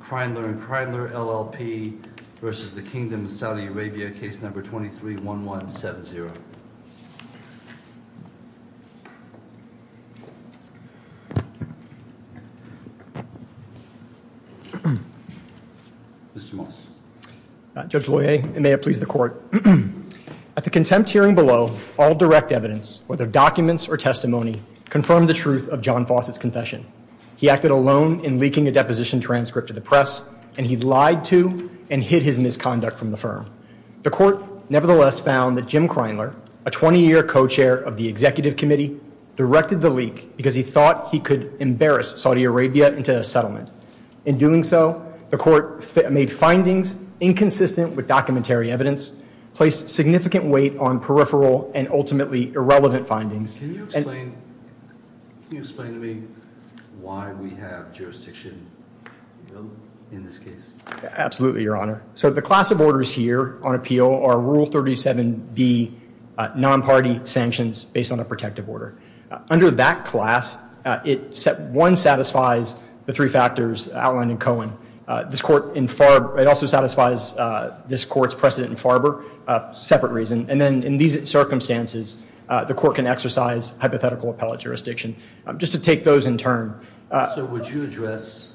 Kreindler and Kreindler, LLP, versus the Kingdom of Saudi Arabia, Case Number 23-1170. Mr. Moss. Judge Loyer, may it please the Court. At the contempt hearing below, all direct evidence, whether documents or testimony, confirmed the truth of John Fawcett's confession. He acted alone in leaking a deposition transcript to the press, and he lied to and hid his misconduct from the firm. The Court nevertheless found that Jim Kreindler, a 20-year co-chair of the Executive Committee, directed the leak because he thought he could embarrass Saudi Arabia into a settlement. In doing so, the Court made findings inconsistent with documentary evidence, placed significant weight on peripheral and ultimately irrelevant findings. Can you explain to me why we have jurisdiction in this case? Absolutely, Your Honor. So the class of orders here on appeal are Rule 37b, non-party sanctions based on a protective order. Under that class, one satisfies the three factors outlined in Cohen. It also satisfies this Court's precedent in Farber, a separate reason. And then in these circumstances, the Court can exercise hypothetical appellate jurisdiction. Just to take those in turn. So would you address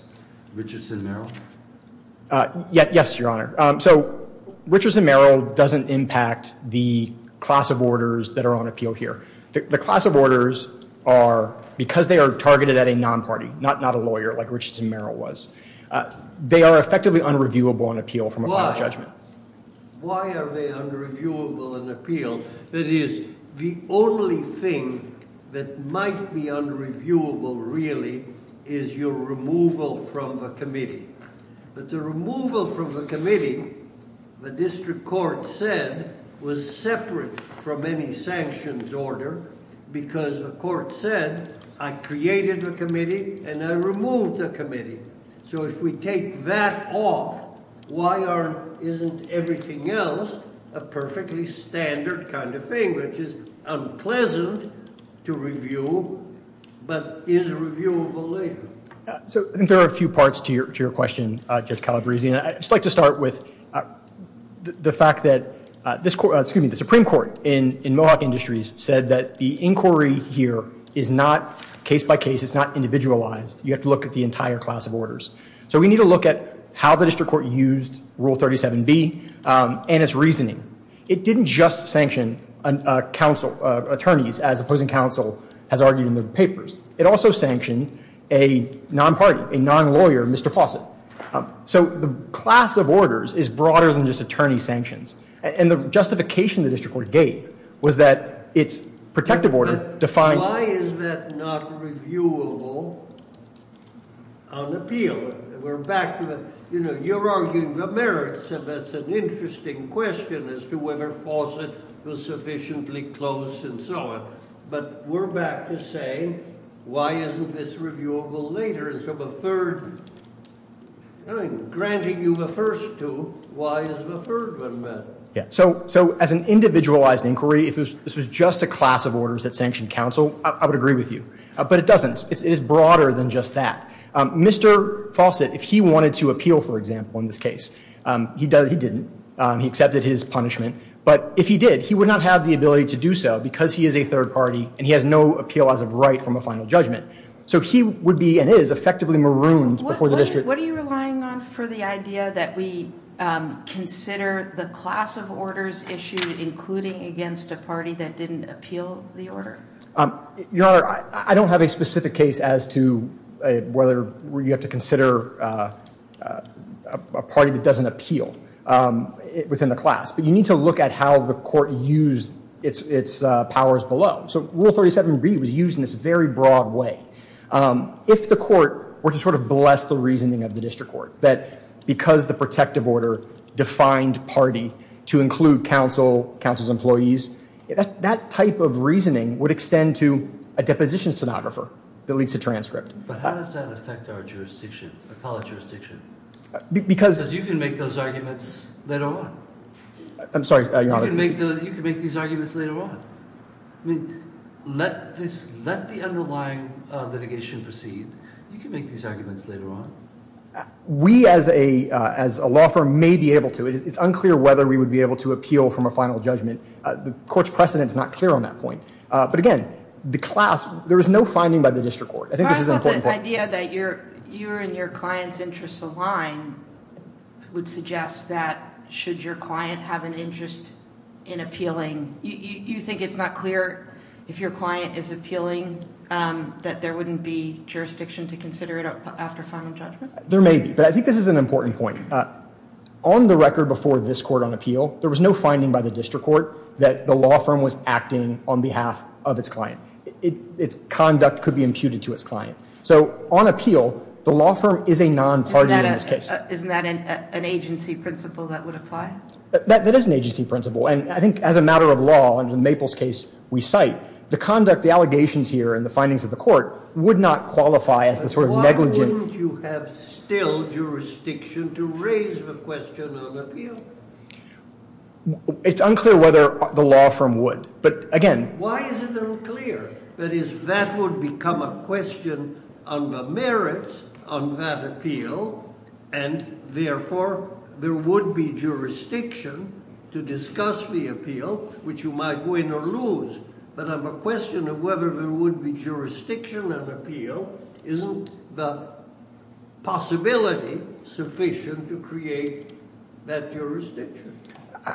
Richardson-Merrill? Yes, Your Honor. So Richardson-Merrill doesn't impact the class of orders that are on appeal here. The class of orders are, because they are targeted at a non-party, not a lawyer like Richardson-Merrill was, they are effectively unreviewable on appeal from a final judgment. Why are they unreviewable on appeal? That is, the only thing that might be unreviewable really is your removal from the committee. But the removal from the committee, the district court said, was separate from any sanctions order because the court said, I created the committee and I removed the committee. So if we take that off, why isn't everything else a perfectly standard kind of thing, which is unpleasant to review, but is reviewable later? So I think there are a few parts to your question, Judge Calabresi, and I'd just like to start with the fact that the Supreme Court in Mohawk Industries said that the inquiry here is not case by case, it's not individualized. You have to look at the entire class of orders. So we need to look at how the district court used Rule 37B and its reasoning. It didn't just sanction attorneys, as opposing counsel has argued in the papers. It also sanctioned a non-party, a non-lawyer, Mr. Fawcett. So the class of orders is broader than just attorney sanctions. And the justification the district court gave was that its protective order defined— Why is that not reviewable on appeal? We're back to the—you know, you're arguing the merits, and that's an interesting question as to whether Fawcett was sufficiently close and so on. But we're back to saying, why isn't this reviewable later? And so the third—I'm granting you the first two. Why is the third one better? So as an individualized inquiry, if this was just a class of orders that sanctioned counsel, I would agree with you. But it doesn't. It is broader than just that. Mr. Fawcett, if he wanted to appeal, for example, in this case, he didn't. He accepted his punishment. But if he did, he would not have the ability to do so because he is a third party, and he has no appeal as of right from a final judgment. So he would be, and is, effectively marooned before the district. Mr. Fawcett, what are you relying on for the idea that we consider the class of orders issued, including against a party that didn't appeal the order? Your Honor, I don't have a specific case as to whether you have to consider a party that doesn't appeal within the class. But you need to look at how the court used its powers below. So Rule 37b was used in this very broad way. If the court were to sort of bless the reasoning of the district court, that because the protective order defined party to include counsel, counsel's employees, that type of reasoning would extend to a deposition stenographer that leads to transcript. But how does that affect our jurisdiction, appellate jurisdiction? Because you can make those arguments later on. I'm sorry, Your Honor. You can make these arguments later on. I mean, let the underlying litigation proceed. You can make these arguments later on. We, as a law firm, may be able to. It's unclear whether we would be able to appeal from a final judgment. The court's precedent is not clear on that point. But again, the class, there is no finding by the district court. I think this is an important point. The idea that you and your client's interests align would suggest that should your client have an interest in appealing, you think it's not clear if your client is appealing that there wouldn't be jurisdiction to consider it after final judgment? There may be. But I think this is an important point. On the record before this court on appeal, there was no finding by the district court that the law firm was acting on behalf of its client. Its conduct could be imputed to its client. So on appeal, the law firm is a non-party in this case. Isn't that an agency principle that would apply? That is an agency principle. And I think as a matter of law, under the Maples case we cite, the conduct, the allegations here, and the findings of the court would not qualify as the sort of negligent. But why wouldn't you have still jurisdiction to raise the question on appeal? It's unclear whether the law firm would. Why is it unclear? That is, that would become a question on the merits on that appeal, and therefore there would be jurisdiction to discuss the appeal, which you might win or lose. But on the question of whether there would be jurisdiction on appeal, isn't the possibility sufficient to create that jurisdiction?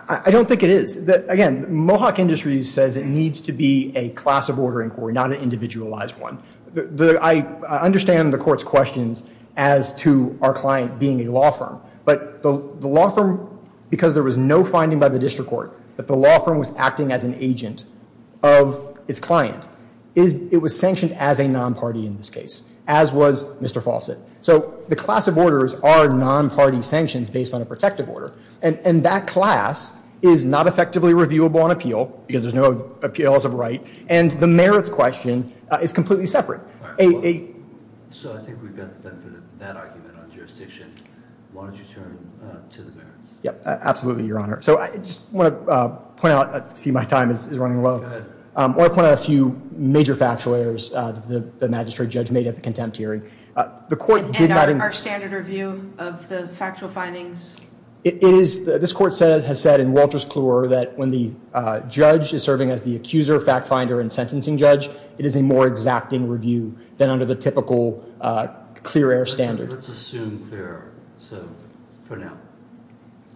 I don't think it is. Again, Mohawk Industries says it needs to be a class of order inquiry, not an individualized one. I understand the court's questions as to our client being a law firm, but the law firm, because there was no finding by the district court, that the law firm was acting as an agent of its client, it was sanctioned as a non-party in this case, as was Mr. Fawcett. So the class of orders are non-party sanctions based on a protective order, and that class is not effectively reviewable on appeal because there's no appeals of right, and the merits question is completely separate. So I think we've got the benefit of that argument on jurisdiction. Why don't you turn to the merits? Absolutely, Your Honor. So I just want to point out, I see my time is running low. Go ahead. I want to point out a few major factual errors the magistrate judge made at the contempt hearing. And our standard review of the factual findings? This court has said in Walter's Clure that when the judge is serving as the accuser, fact finder, and sentencing judge, it is a more exacting review than under the typical clear air standard. Let's assume clear air for now.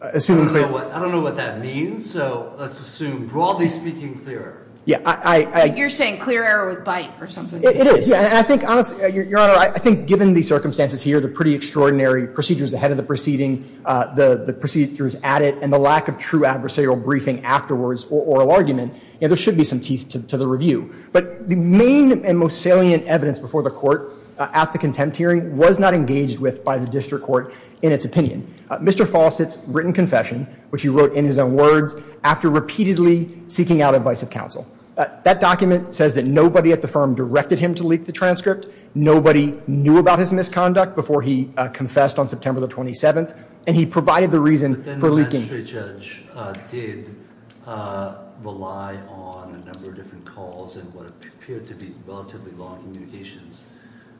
I don't know what that means, so let's assume broadly speaking clear air. You're saying clear air with bite or something. It is. And I think, honestly, Your Honor, I think given the circumstances here, the pretty extraordinary procedures ahead of the proceeding, the procedures at it, and the lack of true adversarial briefing afterwards or oral argument, there should be some teeth to the review. But the main and most salient evidence before the court at the contempt hearing was not engaged with by the district court in its opinion. Mr. Fawcett's written confession, which he wrote in his own words after repeatedly seeking out advice of counsel. That document says that nobody at the firm directed him to leak the transcript. Nobody knew about his misconduct before he confessed on September the 27th, and he provided the reason for leaking. But then the magistrate judge did rely on a number of different calls and what appeared to be relatively long communications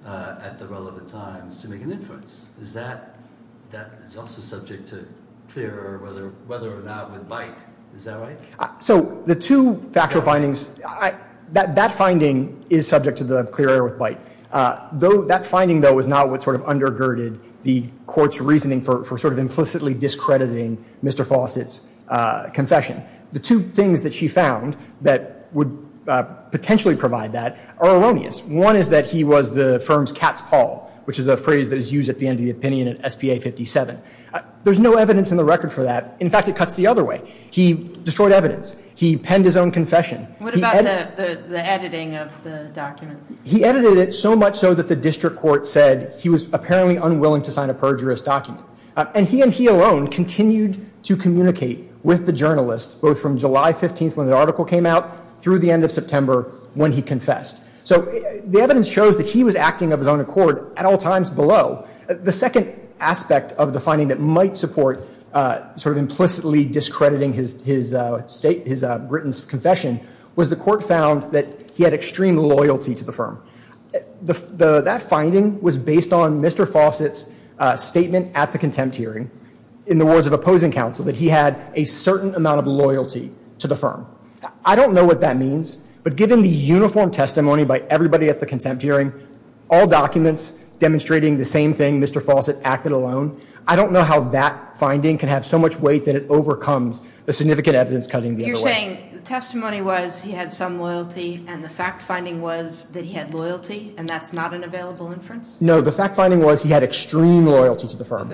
at the relevant times to make an inference. Is that also subject to clear air, whether or not with bite? Is that right? So the two factual findings, that finding is subject to the clear air with bite. That finding, though, is not what sort of undergirded the court's reasoning for sort of implicitly discrediting Mr. Fawcett's confession. The two things that she found that would potentially provide that are erroneous. One is that he was the firm's cat's paw, which is a phrase that is used at the end of the opinion in SPA 57. There's no evidence in the record for that. In fact, it cuts the other way. He destroyed evidence. He penned his own confession. What about the editing of the document? He edited it so much so that the district court said he was apparently unwilling to sign a perjurous document. And he and he alone continued to communicate with the journalist, both from July 15th when the article came out through the end of September when he confessed. So the evidence shows that he was acting of his own accord at all times below. The second aspect of the finding that might support sort of implicitly discrediting his state, his written confession, was the court found that he had extreme loyalty to the firm. That finding was based on Mr. Fawcett's statement at the contempt hearing in the words of opposing counsel, that he had a certain amount of loyalty to the firm. I don't know what that means, but given the uniform testimony by everybody at the contempt hearing, all documents demonstrating the same thing, Mr. Fawcett acted alone. I don't know how that finding can have so much weight that it overcomes the significant evidence cutting the other way. You're saying the testimony was he had some loyalty, and the fact finding was that he had loyalty, and that's not an available inference? No. The fact finding was he had extreme loyalty to the firm.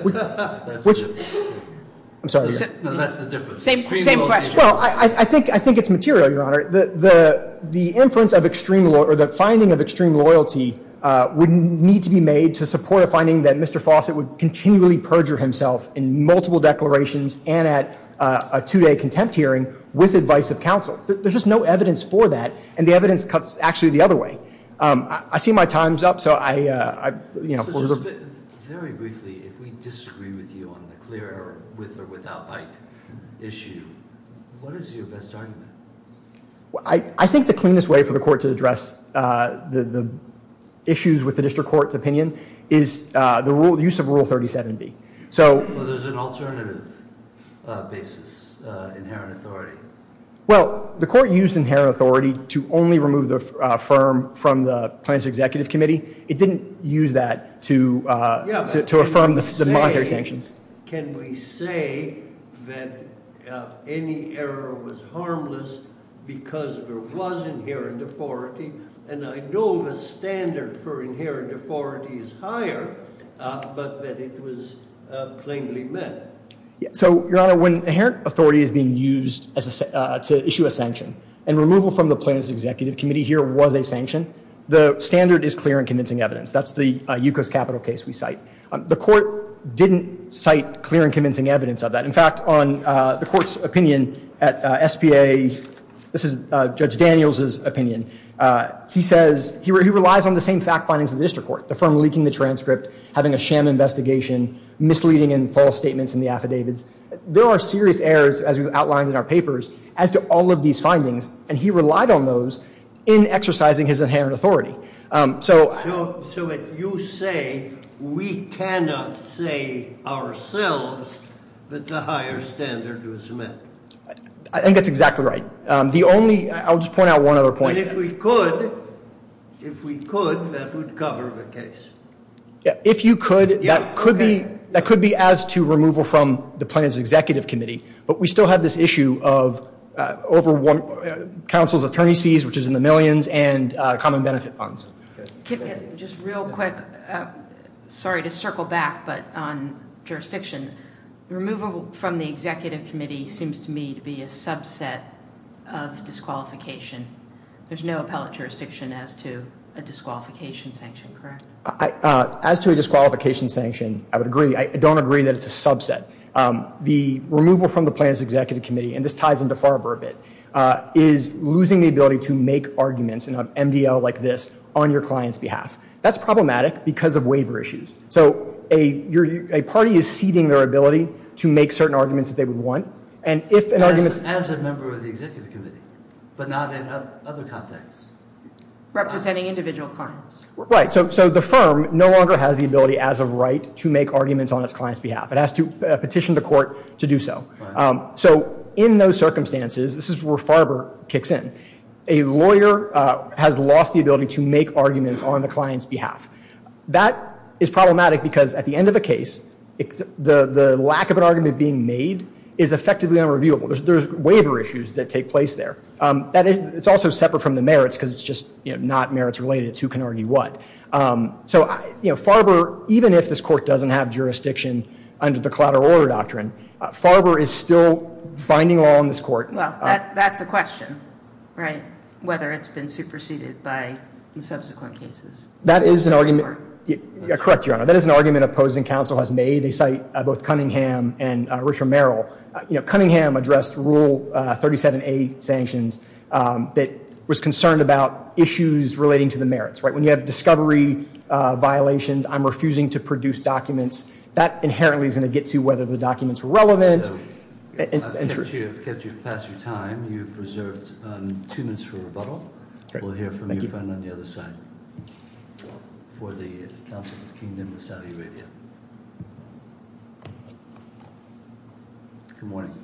I'm sorry. No, that's the difference. Same question. Well, I think it's material, Your Honor. The inference of extreme or the finding of extreme loyalty would need to be made to support a finding that Mr. Fawcett would continually perjure himself in multiple declarations and at a two-day contempt hearing with advice of counsel. There's just no evidence for that, and the evidence cuts actually the other way. I see my time's up, so I, you know, hold it up. Very briefly, if we disagree with you on the clear or with or without bite issue, what is your best argument? I think the cleanest way for the court to address the issues with the district court's opinion is the use of Rule 37B. So there's an alternative basis, inherent authority. Well, the court used inherent authority to only remove the firm from the plaintiff's executive committee. It didn't use that to affirm the monetary sanctions. Can we say that any error was harmless because there was inherent authority, and I know the standard for inherent authority is higher, but that it was plainly met? So, Your Honor, when inherent authority is being used to issue a sanction and removal from the plaintiff's executive committee here was a sanction, the standard is clear and convincing evidence. That's the Yukos Capital case we cite. The court didn't cite clear and convincing evidence of that. In fact, on the court's opinion at SBA, this is Judge Daniels' opinion, he says he relies on the same fact findings of the district court, the firm leaking the transcript, having a sham investigation, misleading and false statements in the affidavits. There are serious errors, as we've outlined in our papers, as to all of these findings, and he relied on those in exercising his inherent authority. So you say we cannot say ourselves that the higher standard was met? I think that's exactly right. I'll just point out one other point. If we could, that would cover the case. If you could, that could be as to removal from the plaintiff's executive committee, but we still have this issue of counsel's attorney's fees, which is in the millions, and common benefit funds. Just real quick, sorry to circle back, but on jurisdiction, removal from the executive committee seems to me to be a subset of disqualification. There's no appellate jurisdiction as to a disqualification sanction, correct? As to a disqualification sanction, I would agree. I don't agree that it's a subset. The removal from the plaintiff's executive committee, and this ties into Farber a bit, is losing the ability to make arguments in an MDL like this on your client's behalf. That's problematic because of waiver issues. So a party is ceding their ability to make certain arguments that they would want, and if an argument is As a member of the executive committee, but not in other contexts. Representing individual clients. Right, so the firm no longer has the ability, as of right, to make arguments on its client's behalf. It has to petition the court to do so. So in those circumstances, this is where Farber kicks in. A lawyer has lost the ability to make arguments on the client's behalf. That is problematic because at the end of a case, the lack of an argument being made is effectively unreviewable. There's waiver issues that take place there. It's also separate from the merits because it's just not merits related. It's who can argue what. So Farber, even if this court doesn't have jurisdiction under the collateral order doctrine, Farber is still binding law on this court. Well, that's a question, right? Whether it's been superseded by subsequent cases. That is an argument. Correct, Your Honor. That is an argument opposing counsel has made. They cite both Cunningham and Richard Merrill. Cunningham addressed Rule 37A sanctions that was concerned about issues relating to the merits. When you have discovery violations, I'm refusing to produce documents. That inherently is going to get to whether the documents are relevant. I've kept you past your time. You've reserved two minutes for rebuttal. We'll hear from you on the other side for the Council of the Kingdom of Saudi Arabia. Good morning.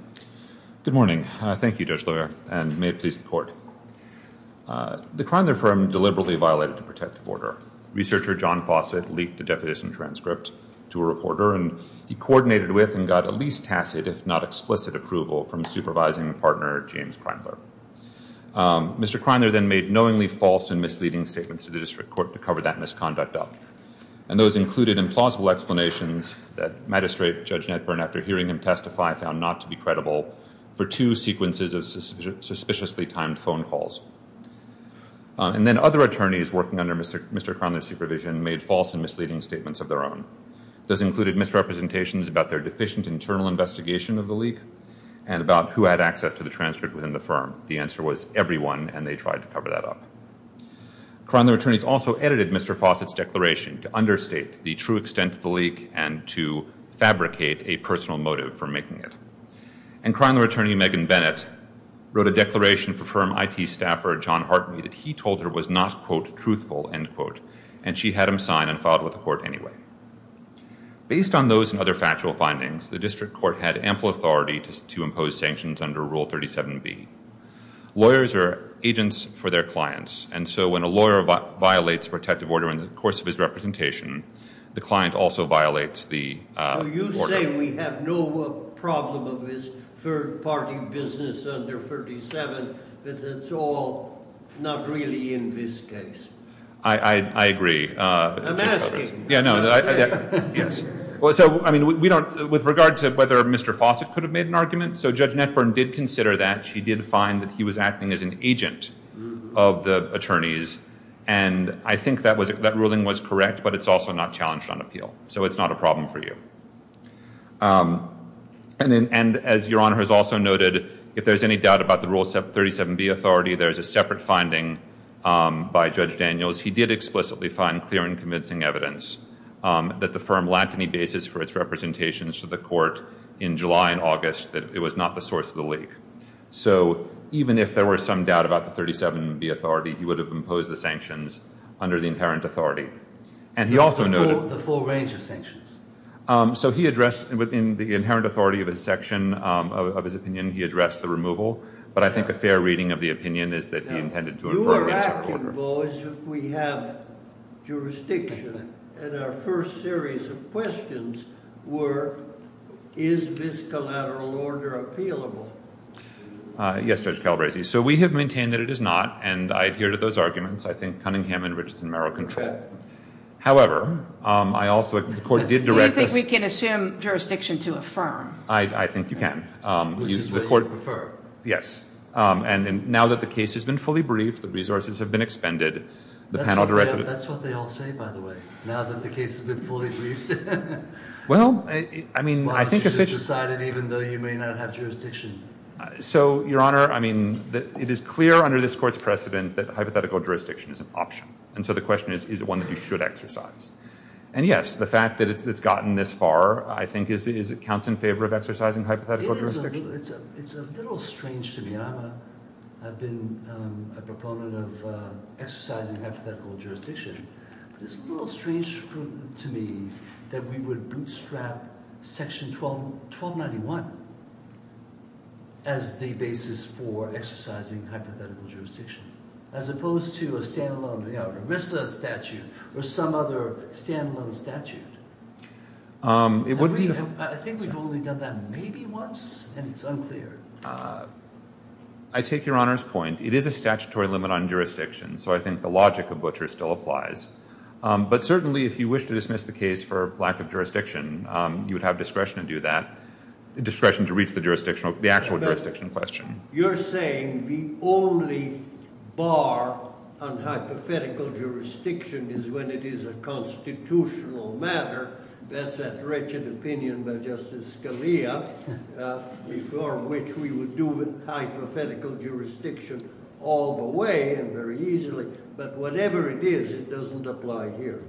Good morning. Thank you, Judge LeVere, and may it please the court. The Kreindler firm deliberately violated the protective order. Researcher John Fawcett leaked a deputation transcript to a reporter, and he coordinated with and got a least tacit, if not explicit, approval from supervising partner James Kreindler. Mr. Kreindler then made knowingly false and misleading statements to the district court to cover that misconduct up, and those included implausible explanations that magistrate Judge Netburn, after hearing him testify, found not to be credible for two sequences of suspiciously timed phone calls. And then other attorneys working under Mr. Kreindler's supervision made false and misleading statements of their own. Those included misrepresentations about their deficient internal investigation of the leak and about who had access to the transcript within the firm. The answer was everyone, and they tried to cover that up. Kreindler attorneys also edited Mr. Fawcett's declaration to understate the true extent of the leak and to fabricate a personal motive for making it. And Kreindler attorney Megan Bennett wrote a declaration for firm IT staffer John Hartney that he told her was not, quote, truthful, end quote, and she had him signed and filed with the court anyway. Based on those and other factual findings, the district court had ample authority to impose sanctions under Rule 37b. Lawyers are agents for their clients, and so when a lawyer violates protective order in the course of his representation, the client also violates the order. You say we have no problem of this third-party business under 37, but it's all not really in this case. I agree. Yeah, no. Yes. So, I mean, with regard to whether Mr. Fawcett could have made an argument, so Judge Netburn did consider that. She did find that he was acting as an agent of the attorneys, and I think that ruling was correct, but it's also not challenged on appeal. So it's not a problem for you. And as Your Honor has also noted, if there's any doubt about the Rule 37b authority, there's a separate finding by Judge Daniels. He did explicitly find clear and convincing evidence that the firm lacked any basis for its representations to the court in July and August that it was not the source of the leak. So even if there were some doubt about the 37b authority, he would have imposed the sanctions under the inherent authority. And he also noted— The full range of sanctions. So he addressed—within the inherent authority of his section of his opinion, he addressed the removal, but I think a fair reading of the opinion is that he intended to— We're acting, boys, if we have jurisdiction. And our first series of questions were, is this collateral order appealable? Yes, Judge Calabresi. So we have maintained that it is not, and I adhere to those arguments. I think Cunningham and Richardson merit control. However, I also—the court did direct us— Do you think we can assume jurisdiction to a firm? I think you can. Which is what you prefer. Yes. And now that the case has been fully briefed, the resources have been expended, the panel directed— That's what they all say, by the way, now that the case has been fully briefed. Well, I mean, I think— Why was it decided even though you may not have jurisdiction? So, Your Honor, I mean, it is clear under this court's precedent that hypothetical jurisdiction is an option. And so the question is, is it one that you should exercise? And yes, the fact that it's gotten this far, I think, counts in favor of exercising hypothetical jurisdiction. It's a little strange to me. I've been a proponent of exercising hypothetical jurisdiction. But it's a little strange to me that we would bootstrap Section 1291 as the basis for exercising hypothetical jurisdiction, as opposed to a standalone, you know, ERISA statute or some other standalone statute. I think we've only done that maybe once, and it's unclear. I take Your Honor's point. It is a statutory limit on jurisdiction, so I think the logic of butcher still applies. But certainly, if you wish to dismiss the case for lack of jurisdiction, you would have discretion to do that, discretion to reach the jurisdiction, the actual jurisdiction question. You're saying the only bar on hypothetical jurisdiction is when it is a constitutional matter. That's that wretched opinion by Justice Scalia, before which we would do hypothetical jurisdiction all the way and very easily. But whatever it is, it doesn't apply here.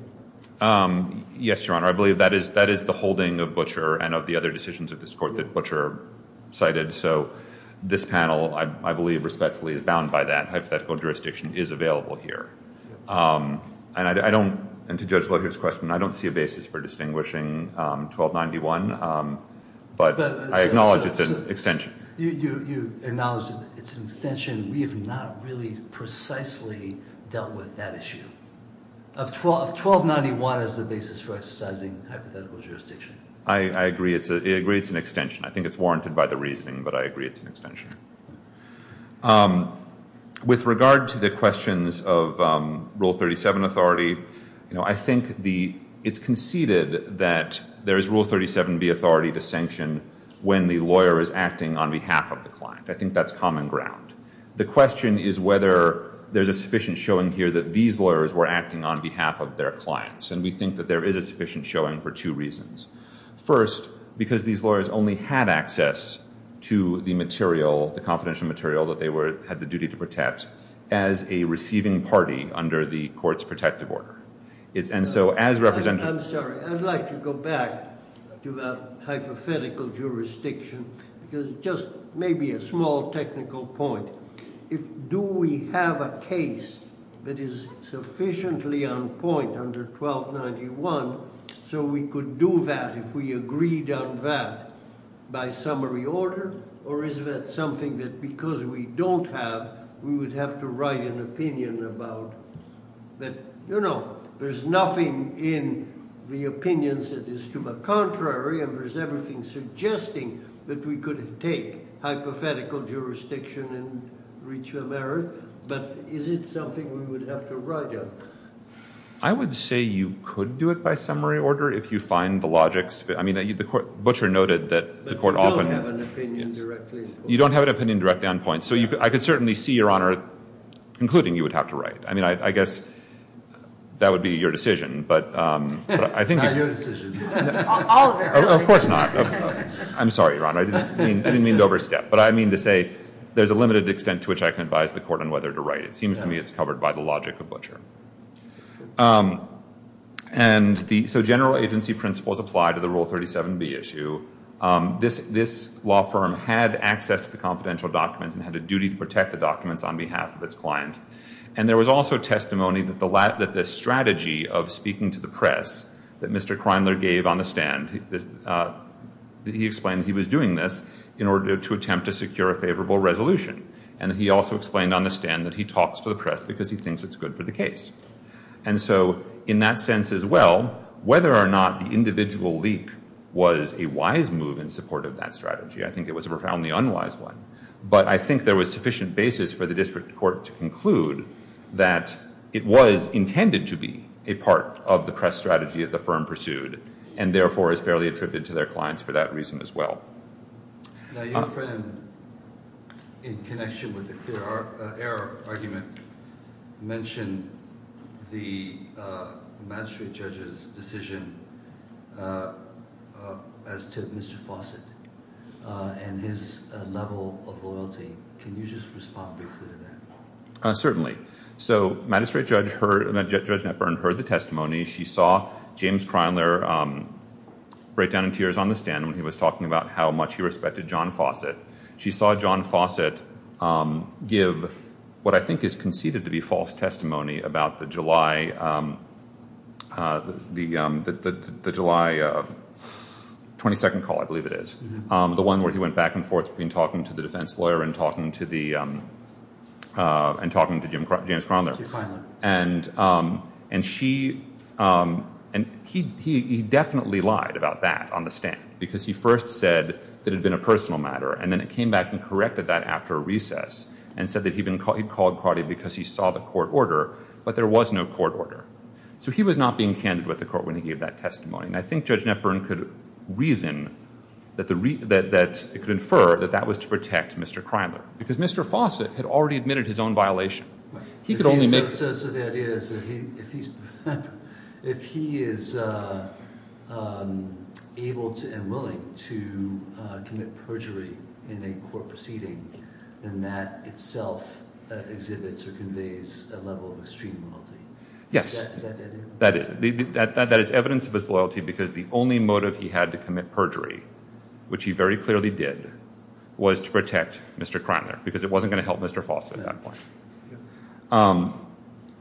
Yes, Your Honor. I believe that is the holding of butcher and of the other decisions of this court that butcher cited. So this panel, I believe respectfully, is bound by that. Hypothetical jurisdiction is available here. And I don't, and to Judge Lohear's question, I don't see a basis for distinguishing 1291. But I acknowledge it's an extension. You acknowledge it's an extension. We have not really precisely dealt with that issue. Of 1291 as the basis for exercising hypothetical jurisdiction. I agree. It's an extension. I think it's warranted by the reasoning that I agree it's an extension. With regard to the questions of Rule 37 authority, I think it's conceded that there is Rule 37B authority to sanction when the lawyer is acting on behalf of the client. I think that's common ground. The question is whether there's a sufficient showing here that these lawyers were acting on behalf of their clients. And we think that there is a sufficient showing for two reasons. First, because these lawyers only had access to the material, the confidential material that they had the duty to protect, as a receiving party under the court's protective order. And so as representatives. I'm sorry. I'd like to go back to that hypothetical jurisdiction because just maybe a small technical point. Do we have a case that is sufficiently on point under 1291 so we could do that if we agreed on that by summary order? Or is that something that because we don't have, we would have to write an opinion about that? No, no. There's nothing in the opinions that is to the contrary. And there's everything suggesting that we could take hypothetical jurisdiction and reach a merit. But is it something we would have to write on? I would say you could do it by summary order if you find the logics. I mean, the court, Butcher noted that the court often. But we don't have an opinion directly on points. You don't have an opinion directly on points. So I could certainly see, Your Honor, concluding you would have to write. I mean, I guess that would be your decision. Not your decision. Of course not. I'm sorry, Your Honor. I didn't mean to overstep. But I mean to say there's a limited extent to which I can advise the court on whether to write. It seems to me it's covered by the logic of Butcher. So general agency principles apply to the Rule 37B issue. This law firm had access to the confidential documents and had a duty to protect the documents on behalf of its client. And there was also testimony that the strategy of speaking to the press that Mr. Kreimler gave on the stand, he explained he was doing this in order to attempt to secure a favorable resolution. And he also explained on the stand that he talks to the press because he thinks it's good for the case. And so in that sense as well, whether or not the individual leak was a wise move in support of that strategy, I think it was a profoundly unwise one. But I think there was sufficient basis for the district court to conclude that it was intended to be a part of the press strategy that the firm pursued and, therefore, is fairly attributed to their clients for that reason as well. Now, your friend, in connection with the clear error argument, mentioned the magistrate judge's decision as to Mr. Fawcett and his level of loyalty. Can you just respond briefly to that? Certainly. So magistrate judge, Judge Netburn, heard the testimony. She saw James Kreimler break down in tears on the stand when he was talking about how much he respected John Fawcett. She saw John Fawcett give what I think is conceded to be false testimony about the July 22 call, I believe it is, the one where he went back and forth between talking to the defense lawyer and talking to James Kreimler. James Kreimler. And he definitely lied about that on the stand because he first said that it had been a personal matter, and then it came back and corrected that after a recess and said that he'd called Cardi because he saw the court order, but there was no court order. So he was not being candid with the court when he gave that testimony. And I think Judge Netburn could reason that it could infer that that was to protect Mr. Kreimler because Mr. Fawcett had already admitted his own violation. So the idea is that if he is able and willing to commit perjury in a court proceeding, then that itself exhibits or conveys a level of extreme loyalty. Yes. Is that the idea? That is. That is evidence of his loyalty because the only motive he had to commit perjury, which he very clearly did, was to protect Mr. Kreimler because it wasn't going to help Mr. Fawcett at that point.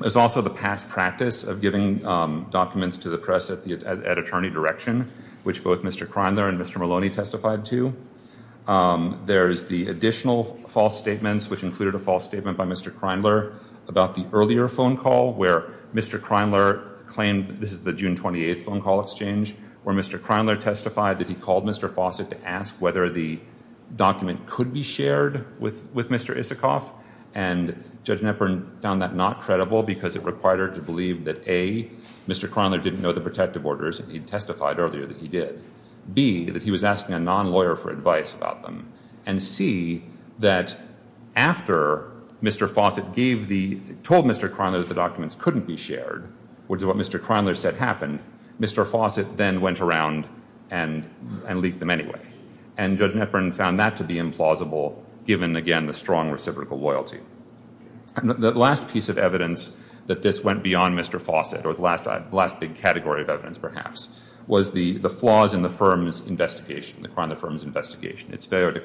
There's also the past practice of giving documents to the press at attorney direction, which both Mr. Kreimler and Mr. Maloney testified to. There's the additional false statements, which included a false statement by Mr. Kreimler, about the earlier phone call where Mr. Kreimler claimed this is the June 28th phone call exchange where Mr. Kreimler testified that he called Mr. Fawcett to ask whether the document could be shared with Mr. Isikoff, and Judge Netburn found that not credible because it required her to believe that, A, Mr. Kreimler didn't know the protective orders that he testified earlier that he did, B, that he was asking a non-lawyer for advice about them, and C, that after Mr. Fawcett told Mr. Kreimler that the documents couldn't be shared, which is what Mr. Kreimler said happened, Mr. Fawcett then went around and leaked them anyway. And Judge Netburn found that to be implausible given, again, the strong reciprocal loyalty. The last piece of evidence that this went beyond Mr. Fawcett, or the last big category of evidence perhaps, was the flaws in the firm's investigation, the crime of the firm's investigation. Its failure to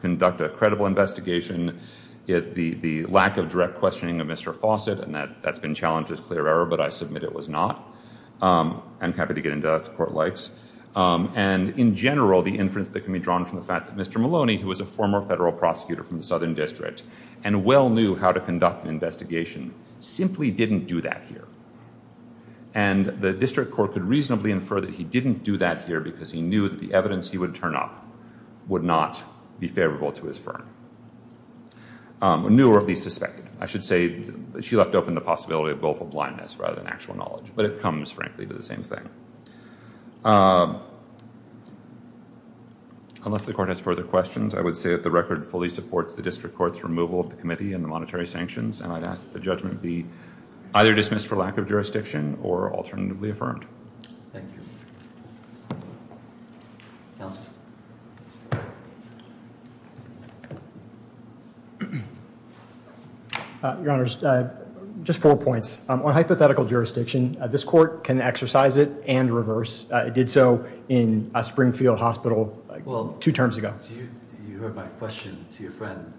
conduct a credible investigation, the lack of direct questioning of Mr. Fawcett, and that's been challenged as clear error, but I submit it was not. I'm happy to get into that if the court likes. And in general, the inference that can be drawn from the fact that Mr. Maloney, who was a former federal prosecutor from the Southern District, and well knew how to conduct an investigation, simply didn't do that here. And the district court could reasonably infer that he didn't do that here because he knew that the evidence he would turn up would not be favorable to his firm, or knew or at least suspected. I should say that she left open the possibility of willful blindness rather than actual knowledge. But it comes, frankly, to the same thing. Unless the court has further questions, I would say that the record fully supports the district court's removal of the committee and the monetary sanctions, and I'd ask that the judgment be either dismissed for lack of jurisdiction or alternatively affirmed. Thank you. Counsel. Your Honors, just four points. On hypothetical jurisdiction, this court can exercise it and reverse. It did so in Springfield Hospital two terms ago. You heard my question to your friend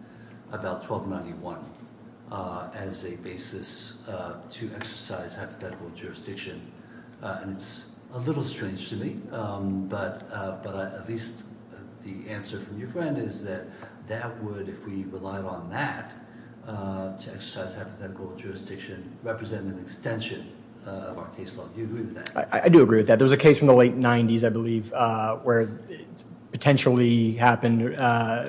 about 1291 as a basis to exercise hypothetical jurisdiction. It's a little strange to me, but at least the answer from your friend is that that would, if we relied on that to exercise hypothetical jurisdiction, represent an extension of our case law. Do you agree with that? I do agree with that. There was a case from the late 90s, I believe, where it potentially happened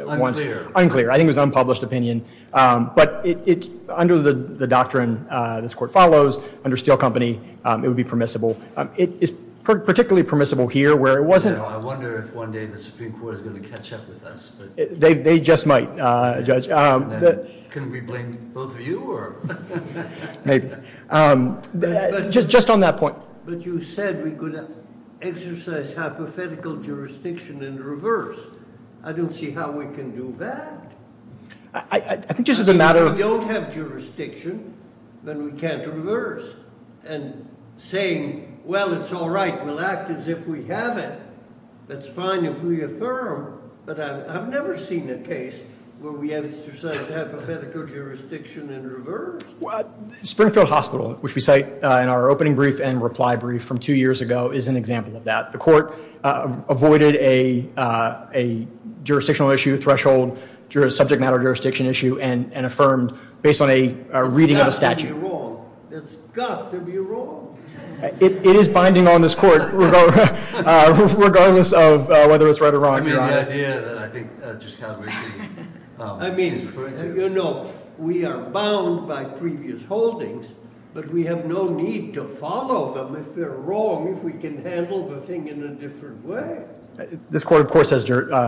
once. I think it was an unpublished opinion. But under the doctrine this court follows, under Steele Company, it would be permissible. It is particularly permissible here where it wasn't. I wonder if one day the Supreme Court is going to catch up with us. They just might, Judge. Can we blame both of you? Maybe. Just on that point. But you said we could exercise hypothetical jurisdiction and reverse. I don't see how we can do that. I think just as a matter of- If we don't have jurisdiction, then we can't reverse. And saying, well, it's all right, we'll act as if we have it, that's fine if we affirm. But I've never seen a case where we have exercised hypothetical jurisdiction and reversed. Springfield Hospital, which we cite in our opening brief and reply brief from two years ago, is an example of that. The court avoided a jurisdictional issue, threshold, subject matter jurisdiction issue, and affirmed based on a reading of a statute. It's got to be wrong. It's got to be wrong. It is binding on this court, regardless of whether it's right or wrong. I mean the idea that I think Judge Calabresi- I mean, you know, we are bound by previous holdings, but we have no need to follow them if they're wrong, if we can handle the thing in a different way. This court, of course, has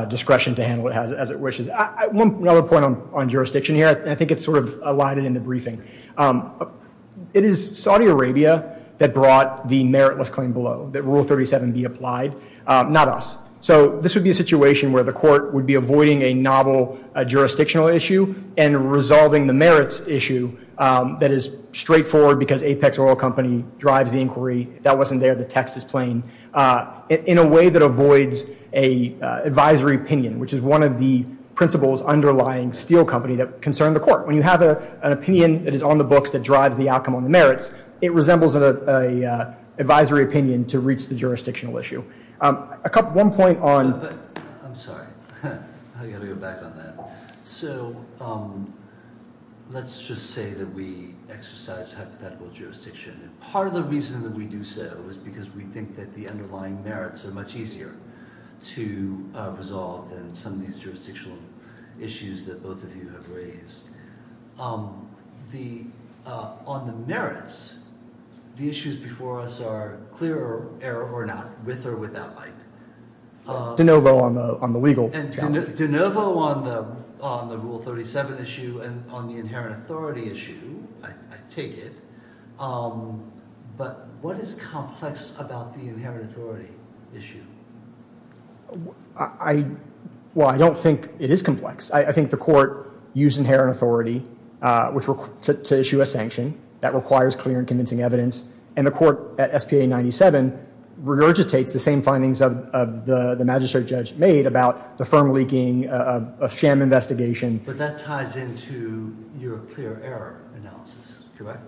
discretion to handle it as it wishes. One other point on jurisdiction here, and I think it's sort of alighted in the briefing. It is Saudi Arabia that brought the meritless claim below, that Rule 37 be applied, not us. So this would be a situation where the court would be avoiding a novel jurisdictional issue and resolving the merits issue that is straightforward because Apex Oil Company drives the inquiry. If that wasn't there, the text is plain, in a way that avoids an advisory opinion, which is one of the principles underlying Steele Company that concern the court. When you have an opinion that is on the books that drives the outcome on the merits, it resembles an advisory opinion to reach the jurisdictional issue. One point on- I'm sorry. I've got to go back on that. So let's just say that we exercise hypothetical jurisdiction. Part of the reason that we do so is because we think that the underlying merits are much easier to resolve than some of these jurisdictional issues that both of you have raised. On the merits, the issues before us are clear error or not, with or without light. De novo on the legal challenge. De novo on the Rule 37 issue and on the inherent authority issue, I take it. But what is complex about the inherent authority issue? I don't think it is complex. I think the court used inherent authority to issue a sanction that requires clear and convincing evidence, and the court at SPA 97 regurgitates the same findings of the magistrate judge made about the firm leaking of sham investigation. But that ties into your clear error analysis, correct?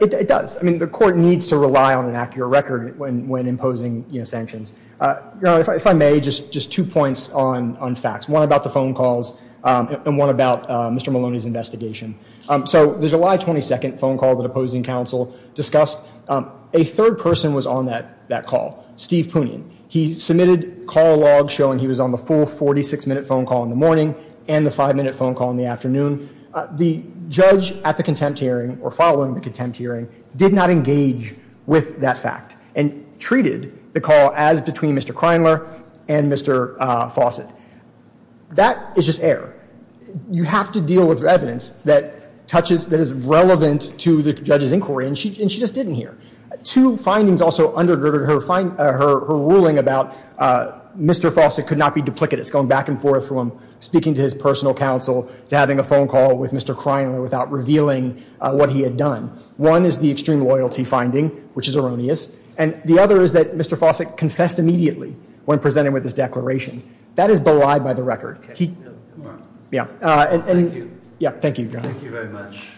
It does. I mean, the court needs to rely on an accurate record when imposing sanctions. Your Honor, if I may, just two points on facts. One about the phone calls and one about Mr. Maloney's investigation. So the July 22 phone call that opposing counsel discussed, a third person was on that call, Steve Poonian. He submitted call logs showing he was on the full 46-minute phone call in the morning and the five-minute phone call in the afternoon. The judge at the contempt hearing or following the contempt hearing did not engage with that fact and treated the call as between Mr. Kreinler and Mr. Fawcett. That is just error. You have to deal with evidence that touches, that is relevant to the judge's inquiry, and she just didn't hear. Two findings also undergirded her ruling about Mr. Fawcett could not be duplicitous, going back and forth from speaking to his personal counsel to having a phone call with Mr. Kreinler without revealing what he had done. One is the extreme loyalty finding, which is erroneous, and the other is that Mr. Fawcett confessed immediately when presented with his declaration. That is belied by the record. Thank you. Thank you, Your Honor. Thank you very much.